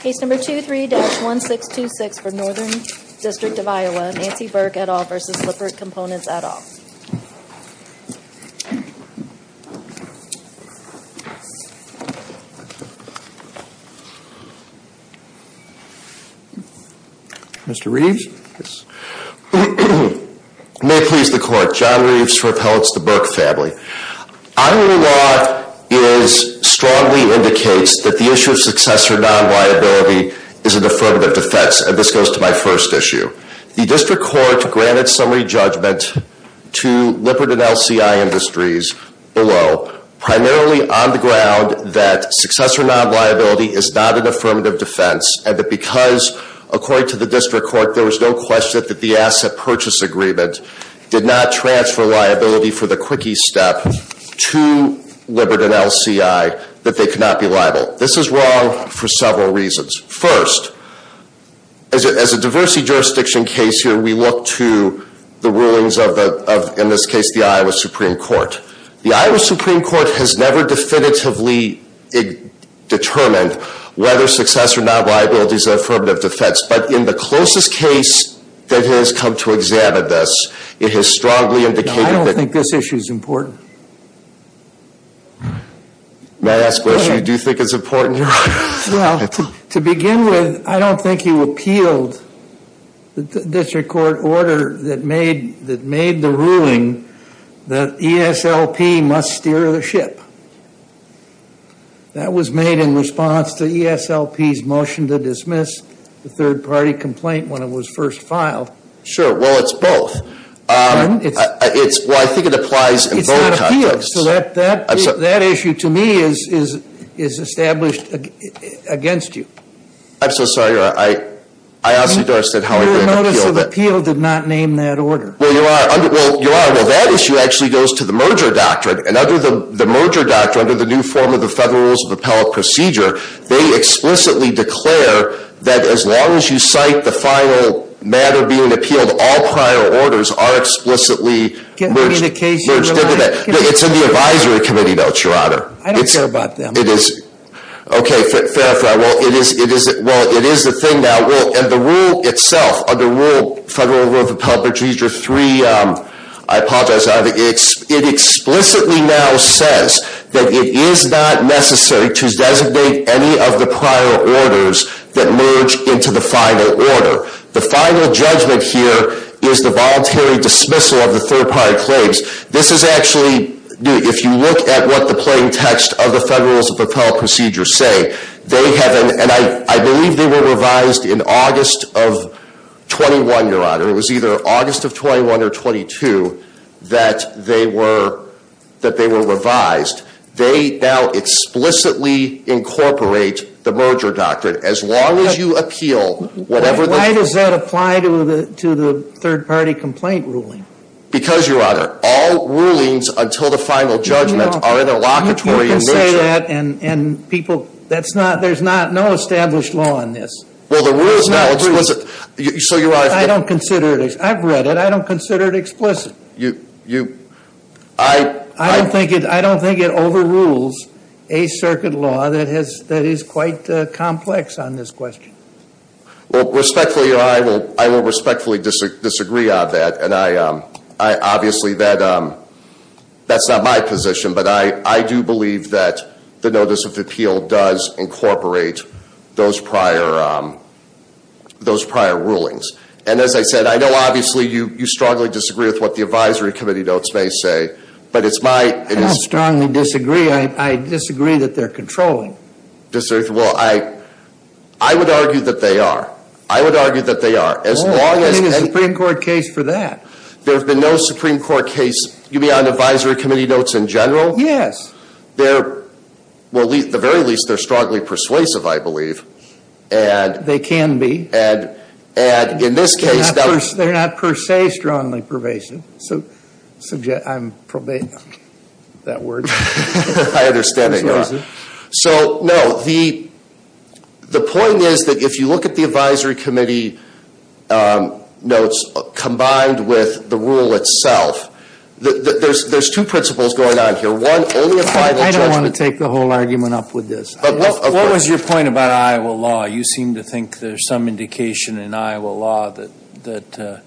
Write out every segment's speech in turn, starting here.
Case number 23-1626 for Northern District of Iowa, Nancy Burke et al. v. Lippert Components et al. Mr. Reeves? May it please the Court, John Reeves for Appellates the Burke Family. Iowa law is, strongly indicates that the issue of successor non-liability is an affirmative defense and this goes to my first issue. The District Court granted summary judgment to Lippert and LCI Industries below, primarily on the ground that successor non-liability is not an affirmative defense and that because, according to the District Court, there was no question that the asset purchase agreement did not transfer liability for the quickie step to Lippert and LCI, that they could not be liable. This is wrong for several reasons. First, as a diversity jurisdiction case here, we look to the rulings of, in this case, the Iowa Supreme Court. The Iowa Supreme Court has never definitively determined whether successor non-liability is an affirmative defense, but in the closest case that has come to examine this, it has strongly indicated that... I don't think this issue is important. May I ask a question? Do you think it's important? Well, to begin with, I don't think you appealed the District Court order that made the ruling that ESLP must steer the ship. That was made in response to ESLP's motion to dismiss the third-party complaint when it was first filed. Sure, well, it's both. Pardon? Well, I think it applies in both contexts. So that issue, to me, is established against you. I'm so sorry. I honestly don't understand how I could have appealed it. Your notice of appeal did not name that order. Well, that issue actually goes to the merger doctrine. And under the merger doctrine, under the new form of the Federal Rules of Appellate Procedure, they explicitly declare that as long as you cite the final matter being appealed, all prior orders are explicitly merged into that. It's in the advisory committee notes, Your Honor. I don't care about them. Okay, fair enough. Well, it is the thing now. And the rule itself, under Federal Rules of Appellate Procedure 3, I apologize, it explicitly now says that it is not necessary to designate any of the prior orders that merge into the final order. The final judgment here is the voluntary dismissal of the third-party claims. This is actually, if you look at what the plain text of the Federal Rules of Appellate Procedure say, they have, and I believe they were revised in August of 21, Your Honor. It was either August of 21 or 22 that they were revised. They now explicitly incorporate the merger doctrine. As long as you appeal whatever the- Why does that apply to the third-party complaint ruling? Because, Your Honor, all rulings until the final judgment are interlocutory in nature. You can say that and people, that's not, there's not, no established law on this. Well, the rules now explicitly, so Your Honor- I don't consider it, I've read it, I don't consider it explicit. You, I- I don't think it overrules a circuit law that is quite complex on this question. Well, respectfully, Your Honor, I will respectfully disagree on that. And I obviously, that's not my position. But I do believe that the notice of appeal does incorporate those prior rulings. And as I said, I know obviously you strongly disagree with what the advisory committee notes may say. But it's my- I don't strongly disagree. I disagree that they're controlling. Well, I, I would argue that they are. I would argue that they are. Well, I think it's a Supreme Court case for that. There have been no Supreme Court case, you mean on advisory committee notes in general? Yes. They're, well, at the very least, they're strongly persuasive, I believe. And- They can be. And, and in this case- They're not per se strongly pervasive. So, I'm probably, that word. I understand it, Your Honor. So, no. The, the point is that if you look at the advisory committee notes combined with the rule itself, there's, there's two principles going on here. One, only a final judgment- I don't want to take the whole argument up with this. What was your point about Iowa law? You seem to think there's some indication in Iowa law that, that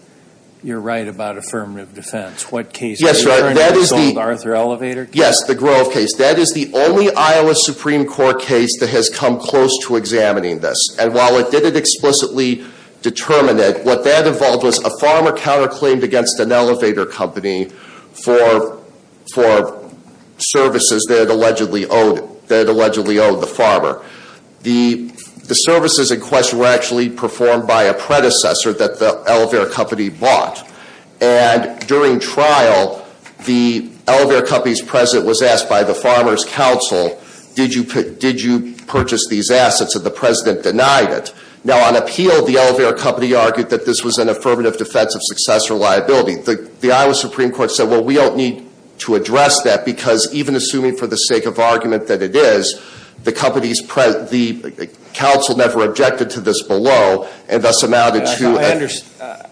you're right about affirmative defense. What case- Yes, Your Honor. That is the- Arthur Elevator case? Yes. The Grove case. That is the only Iowa Supreme Court case that has come close to examining this. And while it didn't explicitly determine it, what that involved was a farmer counterclaimed against an elevator company for, for services that allegedly owed, that allegedly owed the farmer. The, the services in question were actually performed by a predecessor that the elevator company bought. And during trial, the elevator company's president was asked by the farmer's council, did you, did you purchase these assets? And the president denied it. Now, on appeal, the elevator company argued that this was an affirmative defense of success or liability. The, the Iowa Supreme Court said, well, we don't need to address that because even assuming for the sake of argument that it is, the company's, the council never objected to this below and thus amounted to-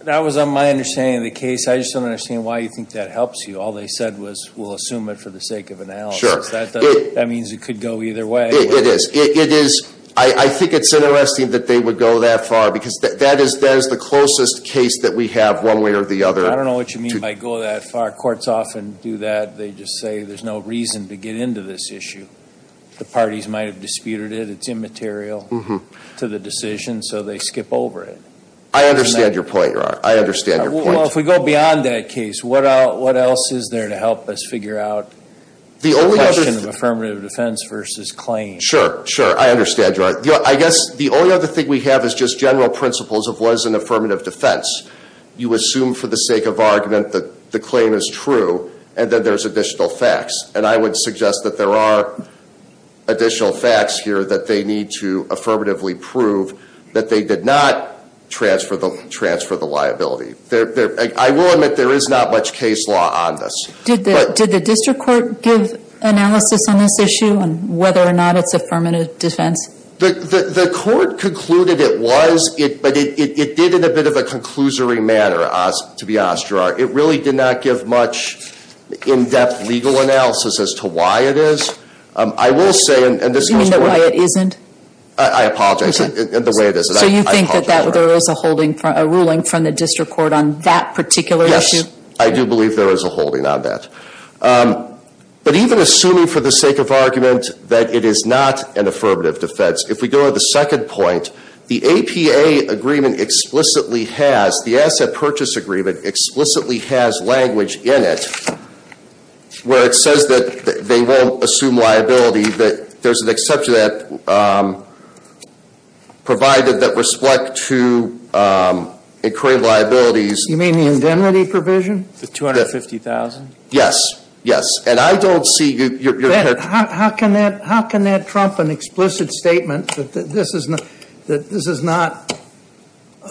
That was my understanding of the case. I just don't understand why you think that helps you. All they said was, we'll assume it for the sake of analysis. Sure. That, that means it could go either way. It, it is. It, it is. I, I think it's interesting that they would go that far because that, that is, that is the closest case that we have one way or the other to- I don't know what you mean by go that far. Courts often do that. They just say there's no reason to get into this issue. The parties might have disputed it. It's immaterial- Mm-hmm. To the decision, so they skip over it. I understand your point, Your Honor. I understand your point. Well, if we go beyond that case, what else is there to help us figure out the question of affirmative defense versus claim? Sure, sure. I understand, Your Honor. I guess the only other thing we have is just general principles of what is an affirmative defense. You assume for the sake of argument that the claim is true and that there's additional facts. And I would suggest that there are additional facts here that they need to affirmatively prove that they did not transfer the, transfer the liability. There, there, I will admit there is not much case law on this. Did the, did the district court give analysis on this issue and whether or not it's affirmative defense? The, the, the court concluded it was. It, but it, it, it did in a bit of a conclusory manner to be honest, Your Honor. It really did not give much in-depth legal analysis as to why it is. I will say, and this goes. You mean the way it isn't? I, I apologize. Okay. The way it is. So you think that there is a holding, a ruling from the district court on that particular issue? Yes. I do believe there is a holding on that. But even assuming for the sake of argument that it is not an affirmative defense, if we go to the second point, the APA agreement explicitly has, the asset purchase agreement explicitly has language in it where it says that they won't assume liability. That there's an exception that provided that respect to incurring liabilities. You mean the indemnity provision? The $250,000? Yes. Yes. And I don't see your, your. How can that, how can that trump an explicit statement that this is not, that this is not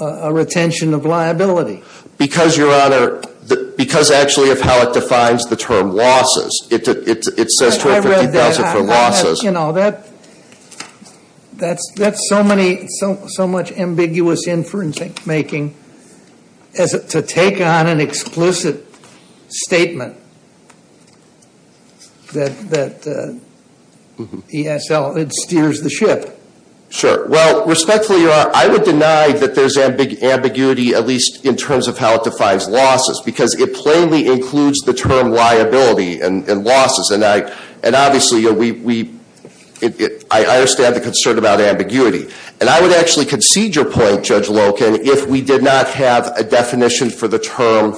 a retention of liability? Because, Your Honor, because actually of how it defines the term losses. It says $250,000 for losses. You know, that, that's, that's so many, so, so much ambiguous inferencing making as to take on an explicit statement that, that ESL, it steers the ship. Sure. Well, respectfully, Your Honor, I would deny that there's ambiguity, at least in terms of how it defines losses. Because it plainly includes the term liability and, and losses. And I, and obviously we, we, it, it, I, I understand the concern about ambiguity. And I would actually concede your point, Judge Loken, if we did not have a definition for the term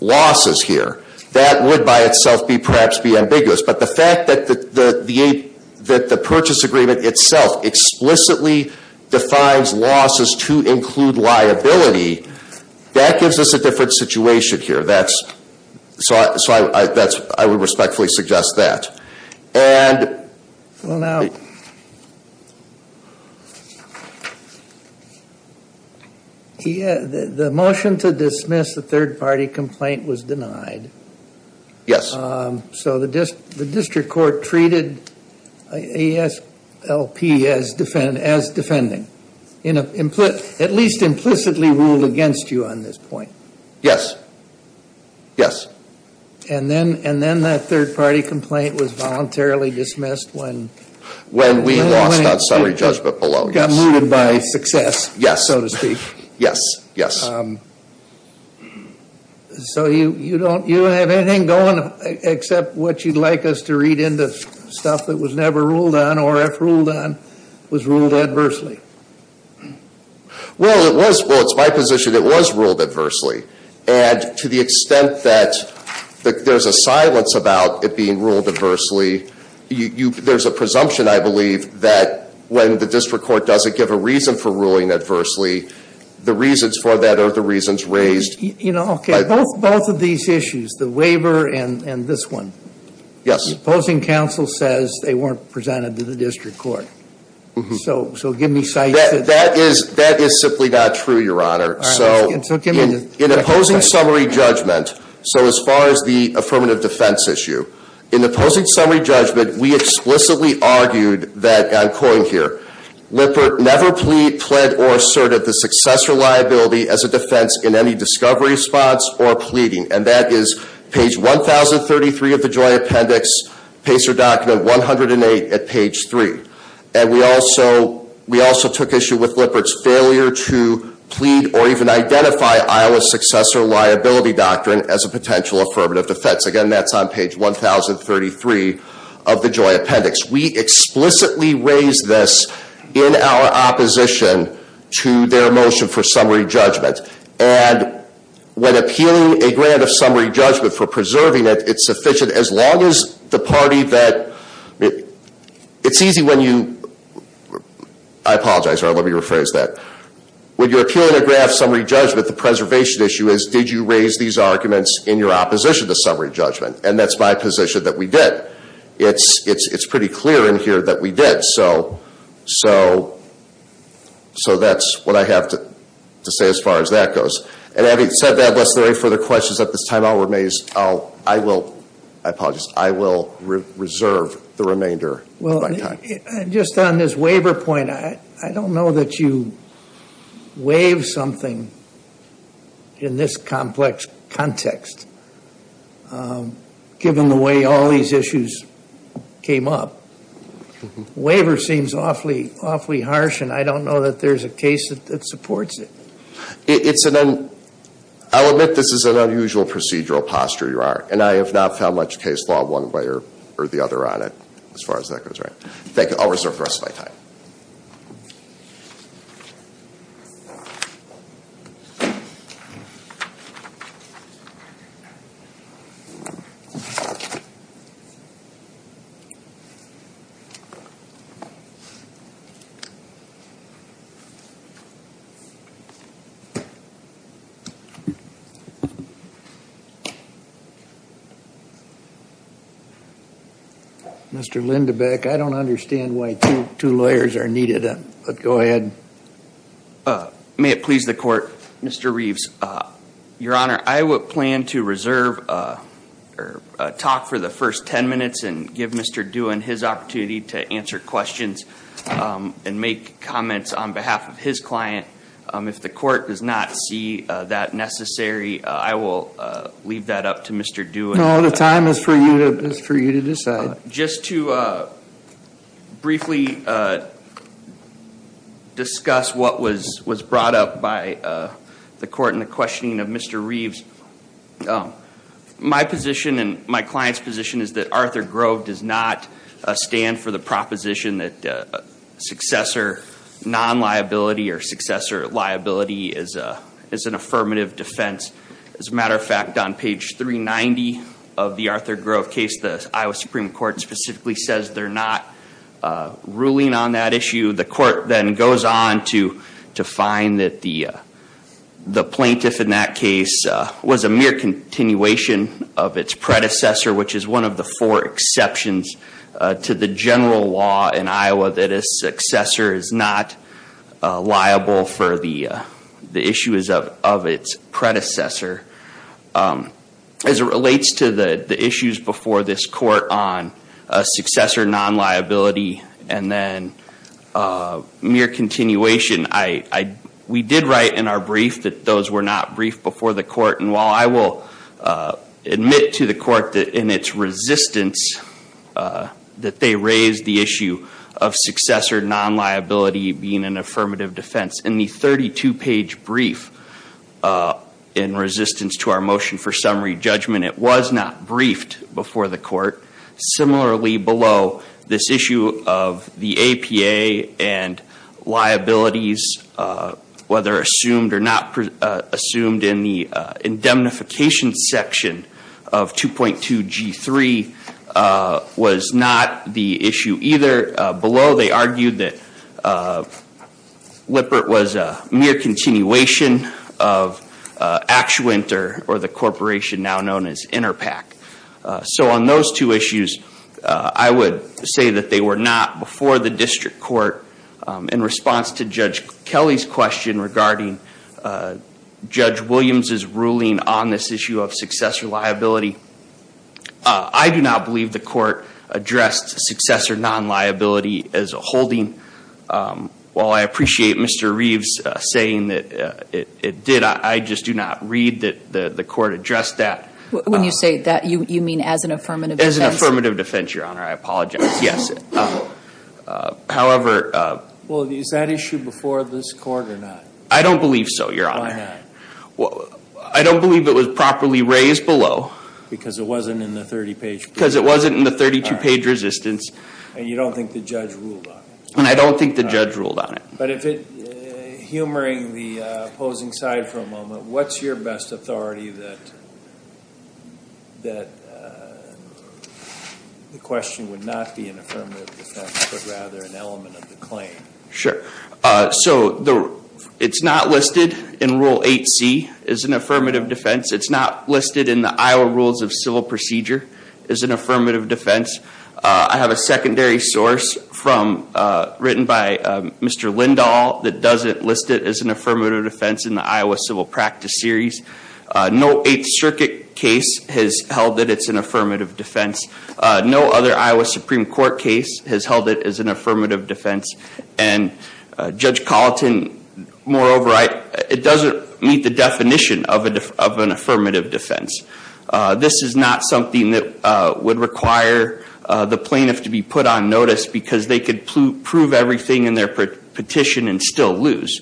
losses here. That would by itself be perhaps be ambiguous. But the fact that the, the, the, that the purchase agreement itself explicitly defines losses to include liability. That gives us a different situation here. That's, so, so I, I, that's, I would respectfully suggest that. And. Well, now. He, the, the motion to dismiss the third party complaint was denied. Yes. So the district, the district court treated ASLP as defend, as defending. In a, at least implicitly ruled against you on this point. Yes. Yes. And then, and then that third party complaint was voluntarily dismissed when. When we lost on summary judgment below. Got moved by success. Yes. So to speak. Yes. Yes. So you, you don't, you don't have anything going except what you'd like us to read into stuff that was never ruled on or if ruled on was ruled adversely. Well, it was, well, it's my position it was ruled adversely. And to the extent that there's a silence about it being ruled adversely, you, you, there's a presumption, I believe, that when the district court doesn't give a reason for ruling adversely, the reasons for that are the reasons raised. You know, okay. Both, both of these issues, the waiver and, and this one. Yes. Opposing counsel says they weren't presented to the district court. So, so give me sight. That, that is, that is simply not true, your honor. So, in opposing summary judgment, so as far as the affirmative defense issue. In opposing summary judgment, we explicitly argued that, I'm quoting here, Lippert never plead, pled, or asserted the successor liability as a defense in any discovery response or pleading. And that is page 1,033 of the Joy Appendix, pacer document 108 at page three. And we also, we also took issue with Lippert's failure to plead or even identify Iowa's successor liability doctrine as a potential affirmative defense. Again, that's on page 1,033 of the Joy Appendix. We explicitly raised this in our opposition to their motion for summary judgment. And when appealing a grant of summary judgment for preserving it, it's sufficient as long as the party that, it's easy when you, I apologize, let me rephrase that. When you're appealing a grant of summary judgment, the preservation issue is, did you raise these arguments in your opposition to summary judgment? And that's my position that we did. It's, it's, it's pretty clear in here that we did. And so, so, so that's what I have to say as far as that goes. And having said that, unless there are any further questions at this time, I'll remain, I'll, I will, I apologize. I will reserve the remainder of my time. Well, just on this waiver point, I don't know that you waive something in this complex context. Given the way all these issues came up, waiver seems awfully, awfully harsh. And I don't know that there's a case that supports it. It's an, I'll admit this is an unusual procedural posture, Your Honor. And I have not found much case law one way or the other on it, as far as that goes. Thank you. I'll reserve the rest of my time. Thank you. Mr. Lindebeck, I don't understand why two lawyers are needed. But go ahead. May it please the Court, Mr. Reeves. Your Honor, I would plan to reserve, or talk for the first ten minutes, and give Mr. Dewin his opportunity to answer questions and make comments on behalf of his client. If the Court does not see that necessary, I will leave that up to Mr. Dewin. No, the time is for you to decide. Just to briefly discuss what was brought up by the Court in the questioning of Mr. Reeves. My position and my client's position is that Arthur Grove does not stand for the proposition that successor non-liability or successor liability is an affirmative defense. As a matter of fact, on page 390 of the Arthur Grove case, the Iowa Supreme Court specifically says they're not ruling on that issue. The Court then goes on to find that the plaintiff in that case was a mere continuation of its predecessor, which is one of the four exceptions to the general law in Iowa that a successor is not liable for the issues of its predecessor. As it relates to the issues before this Court on successor non-liability and then mere continuation, we did write in our brief that those were not briefed before the Court. While I will admit to the Court in its resistance that they raised the issue of successor non-liability being an affirmative defense, in the 32-page brief in resistance to our motion for summary judgment, it was not briefed before the Court. Similarly, below, this issue of the APA and liabilities, whether assumed or not assumed in the indemnification section of 2.2 G3, was not the issue either. Below, they argued that Lippert was a mere continuation of Actuant or the corporation now known as Interpac. So on those two issues, I would say that they were not before the District Court in response to Judge Kelly's question regarding Judge Williams' ruling on this issue of successor liability. I do not believe the Court addressed successor non-liability as a holding. While I appreciate Mr. Reeves saying that it did, I just do not read that the Court addressed that. When you say that, you mean as an affirmative defense? As an affirmative defense, Your Honor. I apologize. Yes. However... Well, is that issue before this Court or not? I don't believe so, Your Honor. Why not? I don't believe it was properly raised below. Because it wasn't in the 30-page brief? Because it wasn't in the 32-page resistance. And you don't think the judge ruled on it? And I don't think the judge ruled on it. Humoring the opposing side for a moment, what's your best authority that the question would not be an affirmative defense, but rather an element of the claim? Sure. So it's not listed in Rule 8c as an affirmative defense. It's not listed in the Iowa Rules of Civil Procedure as an affirmative defense. I have a secondary source written by Mr. Lindahl that doesn't list it as an affirmative defense in the Iowa Civil Practice Series. No Eighth Circuit case has held that it's an affirmative defense. No other Iowa Supreme Court case has held it as an affirmative defense. And Judge Colleton, moreover, it doesn't meet the definition of an affirmative defense. This is not something that would require the plaintiff to be put on notice because they could prove everything in their petition and still lose.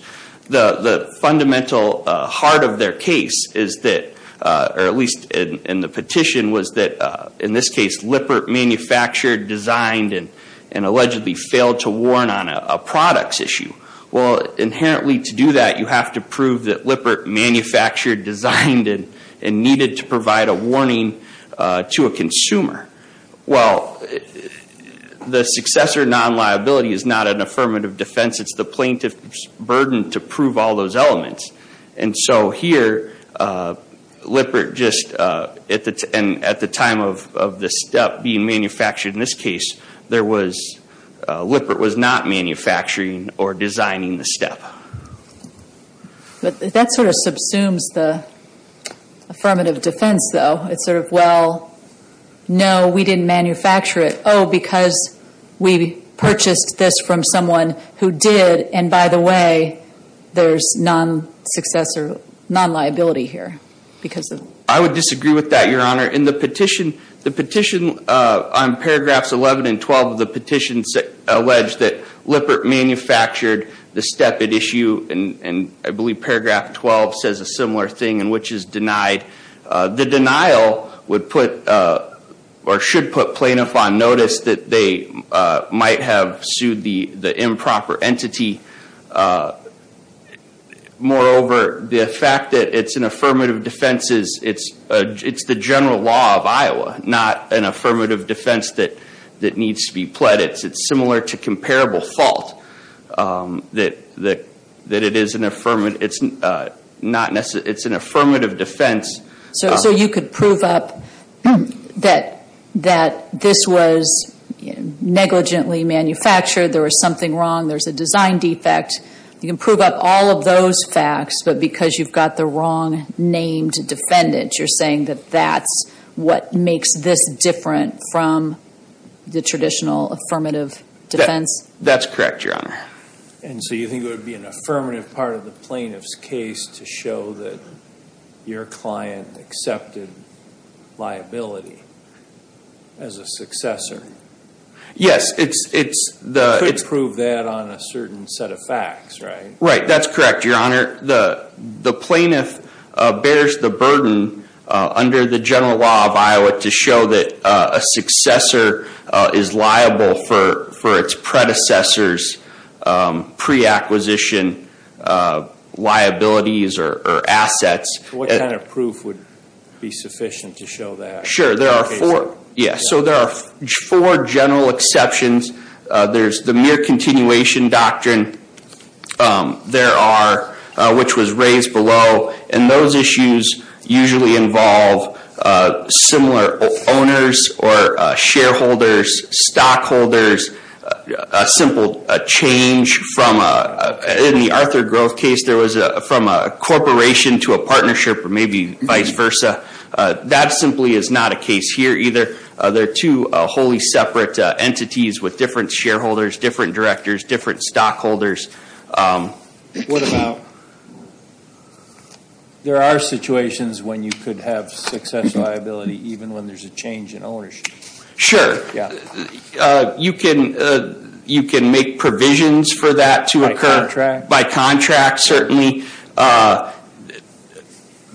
The fundamental heart of their case is that, or at least in the petition, was that, in this case, Lippert manufactured, designed, and allegedly failed to warn on a products issue. Well, inherently to do that, you have to prove that Lippert manufactured, designed, and needed to provide a warning to a consumer. Well, the successor non-liability is not an affirmative defense. It's the plaintiff's burden to prove all those elements. And so here, Lippert just, and at the time of this step being manufactured in this case, there was, Lippert was not manufacturing or designing the step. But that sort of subsumes the affirmative defense, though. It's sort of, well, no, we didn't manufacture it. Oh, because we purchased this from someone who did, and by the way, there's non-successor, non-liability here. I would disagree with that, Your Honor. In the petition, the petition on paragraphs 11 and 12 of the petition alleged that Lippert manufactured the step at issue, and I believe paragraph 12 says a similar thing, in which is denied. The denial would put, or should put plaintiff on notice that they might have sued the improper entity. Moreover, the fact that it's an affirmative defense, it's the general law of Iowa, not an affirmative defense that needs to be pledged. It's similar to comparable fault, that it is an affirmative, it's not necessarily, it's an affirmative defense. So you could prove up that this was negligently manufactured, there was something wrong, there's a design defect. You can prove up all of those facts, but because you've got the wrong named defendant, you're saying that that's what makes this different from the traditional affirmative defense? That's correct, Your Honor. And so you think it would be an affirmative part of the plaintiff's case to show that your client accepted liability as a successor? Yes. You could prove that on a certain set of facts, right? Right, that's correct, Your Honor. The plaintiff bears the burden under the general law of Iowa to show that a successor is liable for its predecessor's pre-acquisition liabilities or assets. What kind of proof would be sufficient to show that? Sure, there are four general exceptions. There's the mere continuation doctrine. There are, which was raised below, and those issues usually involve similar owners or shareholders, stockholders. A simple change from, in the Arthur Growth case, there was from a corporation to a partnership or maybe vice versa. That simply is not a case here either. They're two wholly separate entities with different shareholders, different directors, different stockholders. What about, there are situations when you could have success liability even when there's a change in ownership? Sure. Yeah. You can make provisions for that to occur. By contract? By contract, certainly.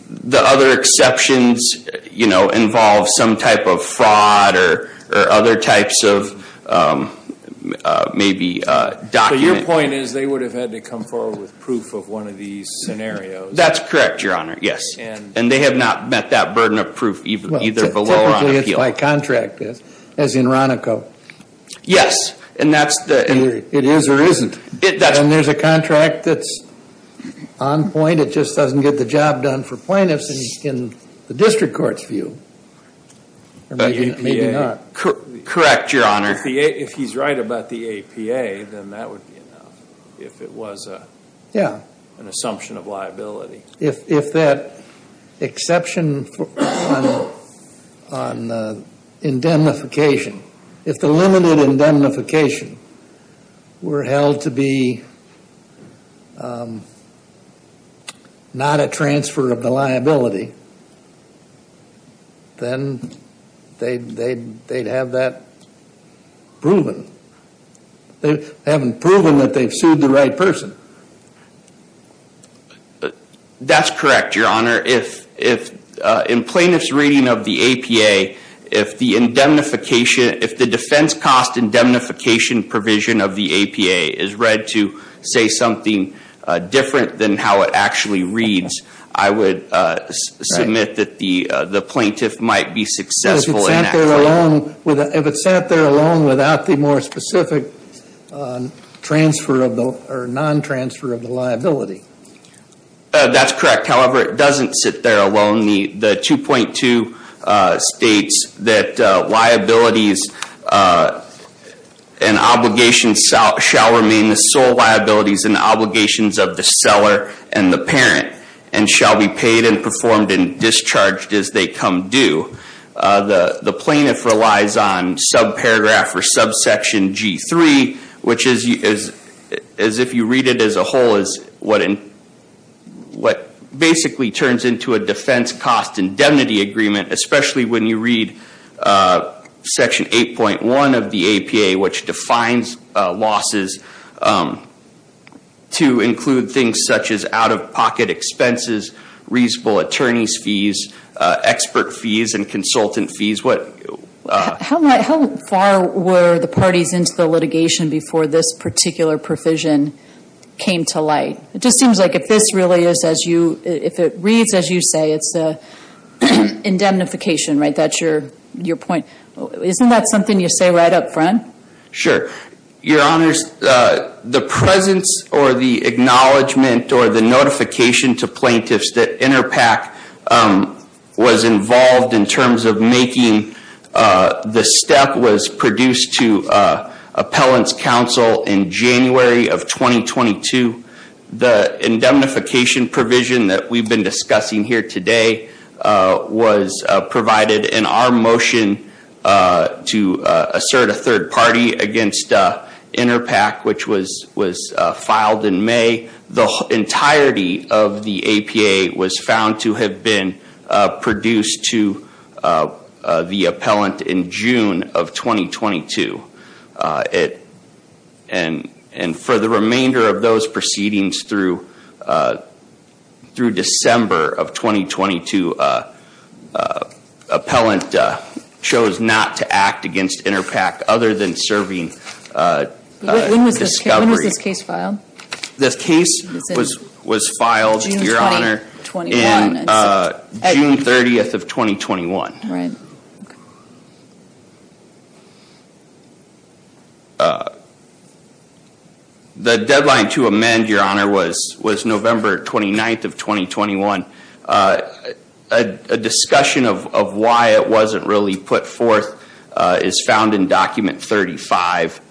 The other exceptions involve some type of fraud or other types of maybe document. So your point is they would have had to come forward with proof of one of these scenarios? That's correct, Your Honor, yes. And they have not met that burden of proof either below or on appeal. Technically it's by contract, as in Ronico. Yes, and that's the... It is or isn't. And there's a contract that's on point. It just doesn't get the job done for plaintiffs in the district court's view. Maybe not. Correct, Your Honor. If he's right about the APA, then that would be enough if it was an assumption of liability. If that exception on indemnification, if the limited indemnification were held to be not a transfer of the liability, then they'd have that proven. They haven't proven that they've sued the right person. That's correct, Your Honor. If in plaintiff's reading of the APA, if the defense cost indemnification provision of the APA is read to say something different than how it actually reads, I would submit that the plaintiff might be successful in that claim. If it's sent there alone without the more specific transfer or non-transfer of the liability. That's correct. However, it doesn't sit there alone. The 2.2 states that liabilities and obligations shall remain the sole liabilities and obligations of the seller and the parent and shall be paid and performed and discharged as they come due. The plaintiff relies on subparagraph or subsection G3, which is if you read it as a whole is what basically turns into a defense cost indemnity agreement, especially when you read section 8.1 of the APA, which defines losses to include things such as out-of-pocket expenses, reasonable attorney's fees, expert fees and consultant fees. How far were the parties into the litigation before this particular provision came to light? It just seems like if this really is as you, if it reads as you say, it's indemnification, right? That's your point. Isn't that something you say right up front? Sure. Your honors, the presence or the acknowledgement or the notification to plaintiffs that Interpac was involved in terms of making the step was produced to appellant's counsel in January of 2022. The indemnification provision that we've been discussing here today was provided in our motion to assert a third party against Interpac, which was filed in May. The entirety of the APA was found to have been produced to the appellant in June of 2022. And for the remainder of those proceedings through December of 2022, appellant chose not to act against Interpac other than serving discovery. When was this case filed? This case was filed, your honor, in June 30th of 2021. Right. The deadline to amend, your honor, was November 29th of 2021. A discussion of why it wasn't really put forth is found in document 35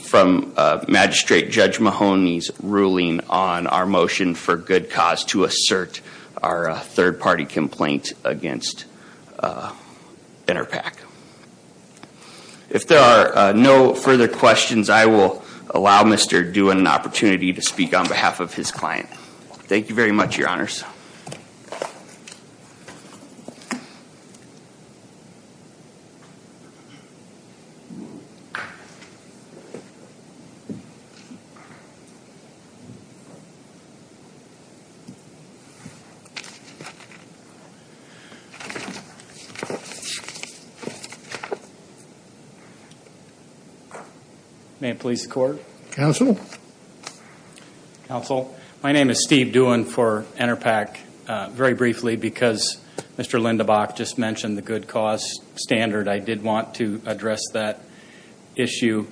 from Magistrate Judge Mahoney's ruling on our motion for good cause to assert our third party complaint against Interpac. If there are no further questions, I will allow Mr. Due an opportunity to speak on behalf of his client. Thank you very much, your honors. May it please the court? Counsel? Counsel, my name is Steve Duen for Interpac. Very briefly, because Mr. Lindebach just mentioned the good cause standard, I did want to address that issue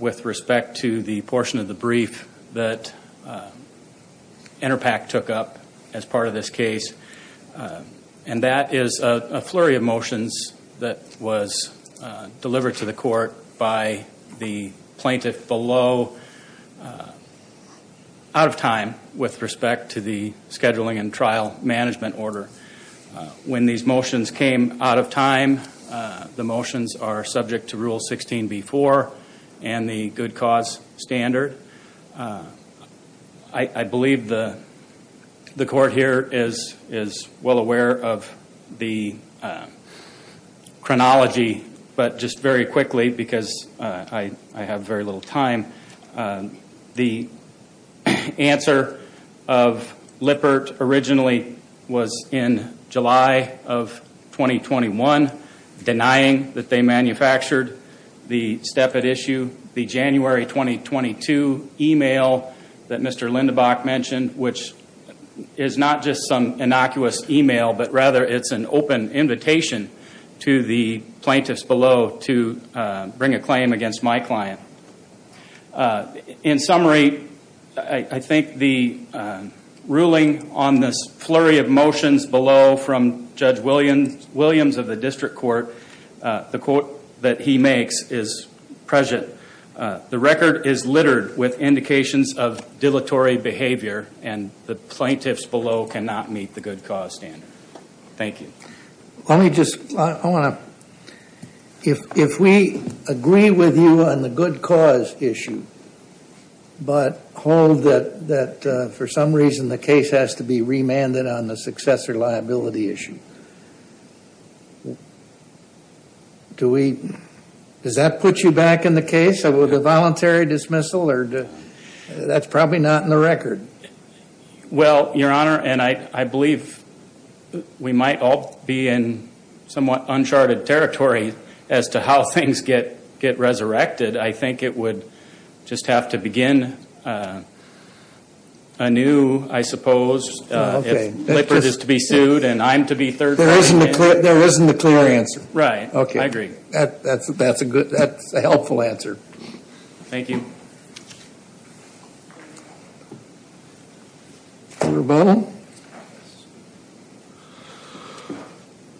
with respect to the portion of the brief that Interpac took up as part of this case. And that is a flurry of motions that was delivered to the court by the plaintiff below out of time with respect to the scheduling and trial management order. When these motions came out of time, the motions are subject to Rule 16b-4 and the good cause standard. I believe the court here is well aware of the chronology. But just very quickly, because I have very little time, the answer of Lippert originally was in July of 2021 denying that they manufactured the steppit issue. The January 2022 email that Mr. Lindebach mentioned, which is not just some innocuous email, but rather it's an open invitation to the plaintiffs below to bring a claim against my client. In summary, I think the ruling on this flurry of motions below from Judge Williams of the district court, the quote that he makes is present. The record is littered with indications of dilatory behavior and the plaintiffs below cannot meet the good cause standard. Thank you. If we agree with you on the good cause issue, but hold that for some reason the case has to be remanded on the successor liability issue, does that put you back in the case? A voluntary dismissal? That's probably not in the record. Well, Your Honor, and I believe we might all be in somewhat uncharted territory as to how things get resurrected. I think it would just have to begin anew, I suppose, if Lippert is to be sued and I'm to be third party. There isn't a clear answer. Right. I agree. That's a helpful answer. Thank you. Mr. Bonner?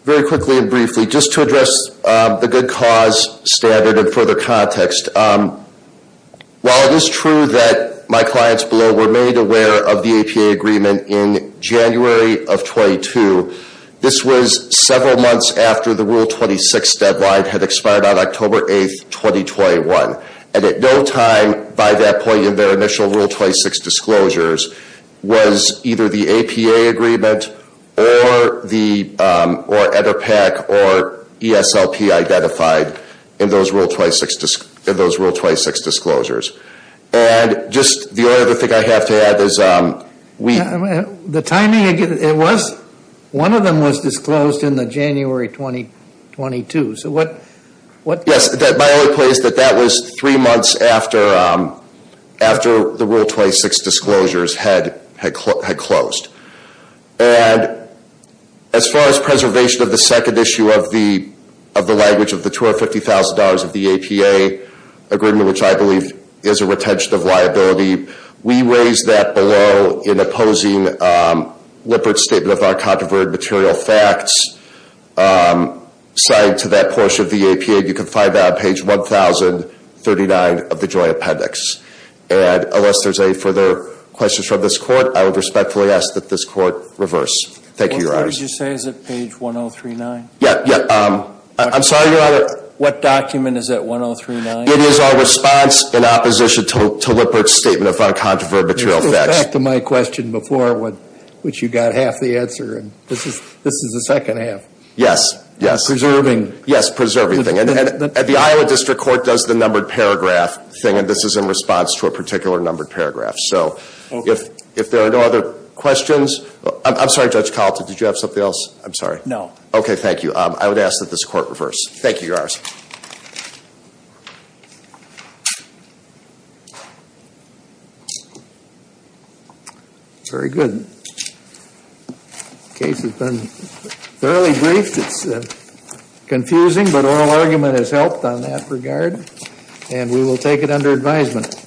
Very quickly and briefly, just to address the good cause standard in further context. While it is true that my clients below were made aware of the APA agreement in January of 22, this was several months after the Rule 26 deadline had expired on October 8, 2021. And at no time by that point in their initial Rule 26 disclosures was either the APA agreement or EDPAC or ESLP identified in those Rule 26 disclosures. And just the only other thing I have to add is we... The timing, it was, one of them was disclosed in the January 2022. So what... Yes, my only point is that that was three months after the Rule 26 disclosures had closed. And as far as preservation of the second issue of the language of the $250,000 of the APA agreement, which I believe is a retention of liability, we raised that below in opposing Lippert's statement of our controverted material facts. Citing to that portion of the APA, you can find that on page 1039 of the Joint Appendix. And unless there's any further questions from this court, I would respectfully ask that this court reverse. Thank you, Your Honor. What page did you say is at page 1039? Yeah, yeah. I'm sorry, Your Honor. What document is at 1039? It is our response in opposition to Lippert's statement of our controverted material facts. It goes back to my question before, which you got half the answer. And this is the second half. Yes, yes. Preserving. Yes, preserving. And the Iowa District Court does the numbered paragraph thing, and this is in response to a particular numbered paragraph. So if there are no other questions... I'm sorry, Judge Kalten, did you have something else? I'm sorry. No. Okay, thank you. I would ask that this court reverse. Thank you, Your Honor. Very good. The case has been thoroughly briefed. It's confusing, but oral argument has helped on that regard. And we will take it under advisement.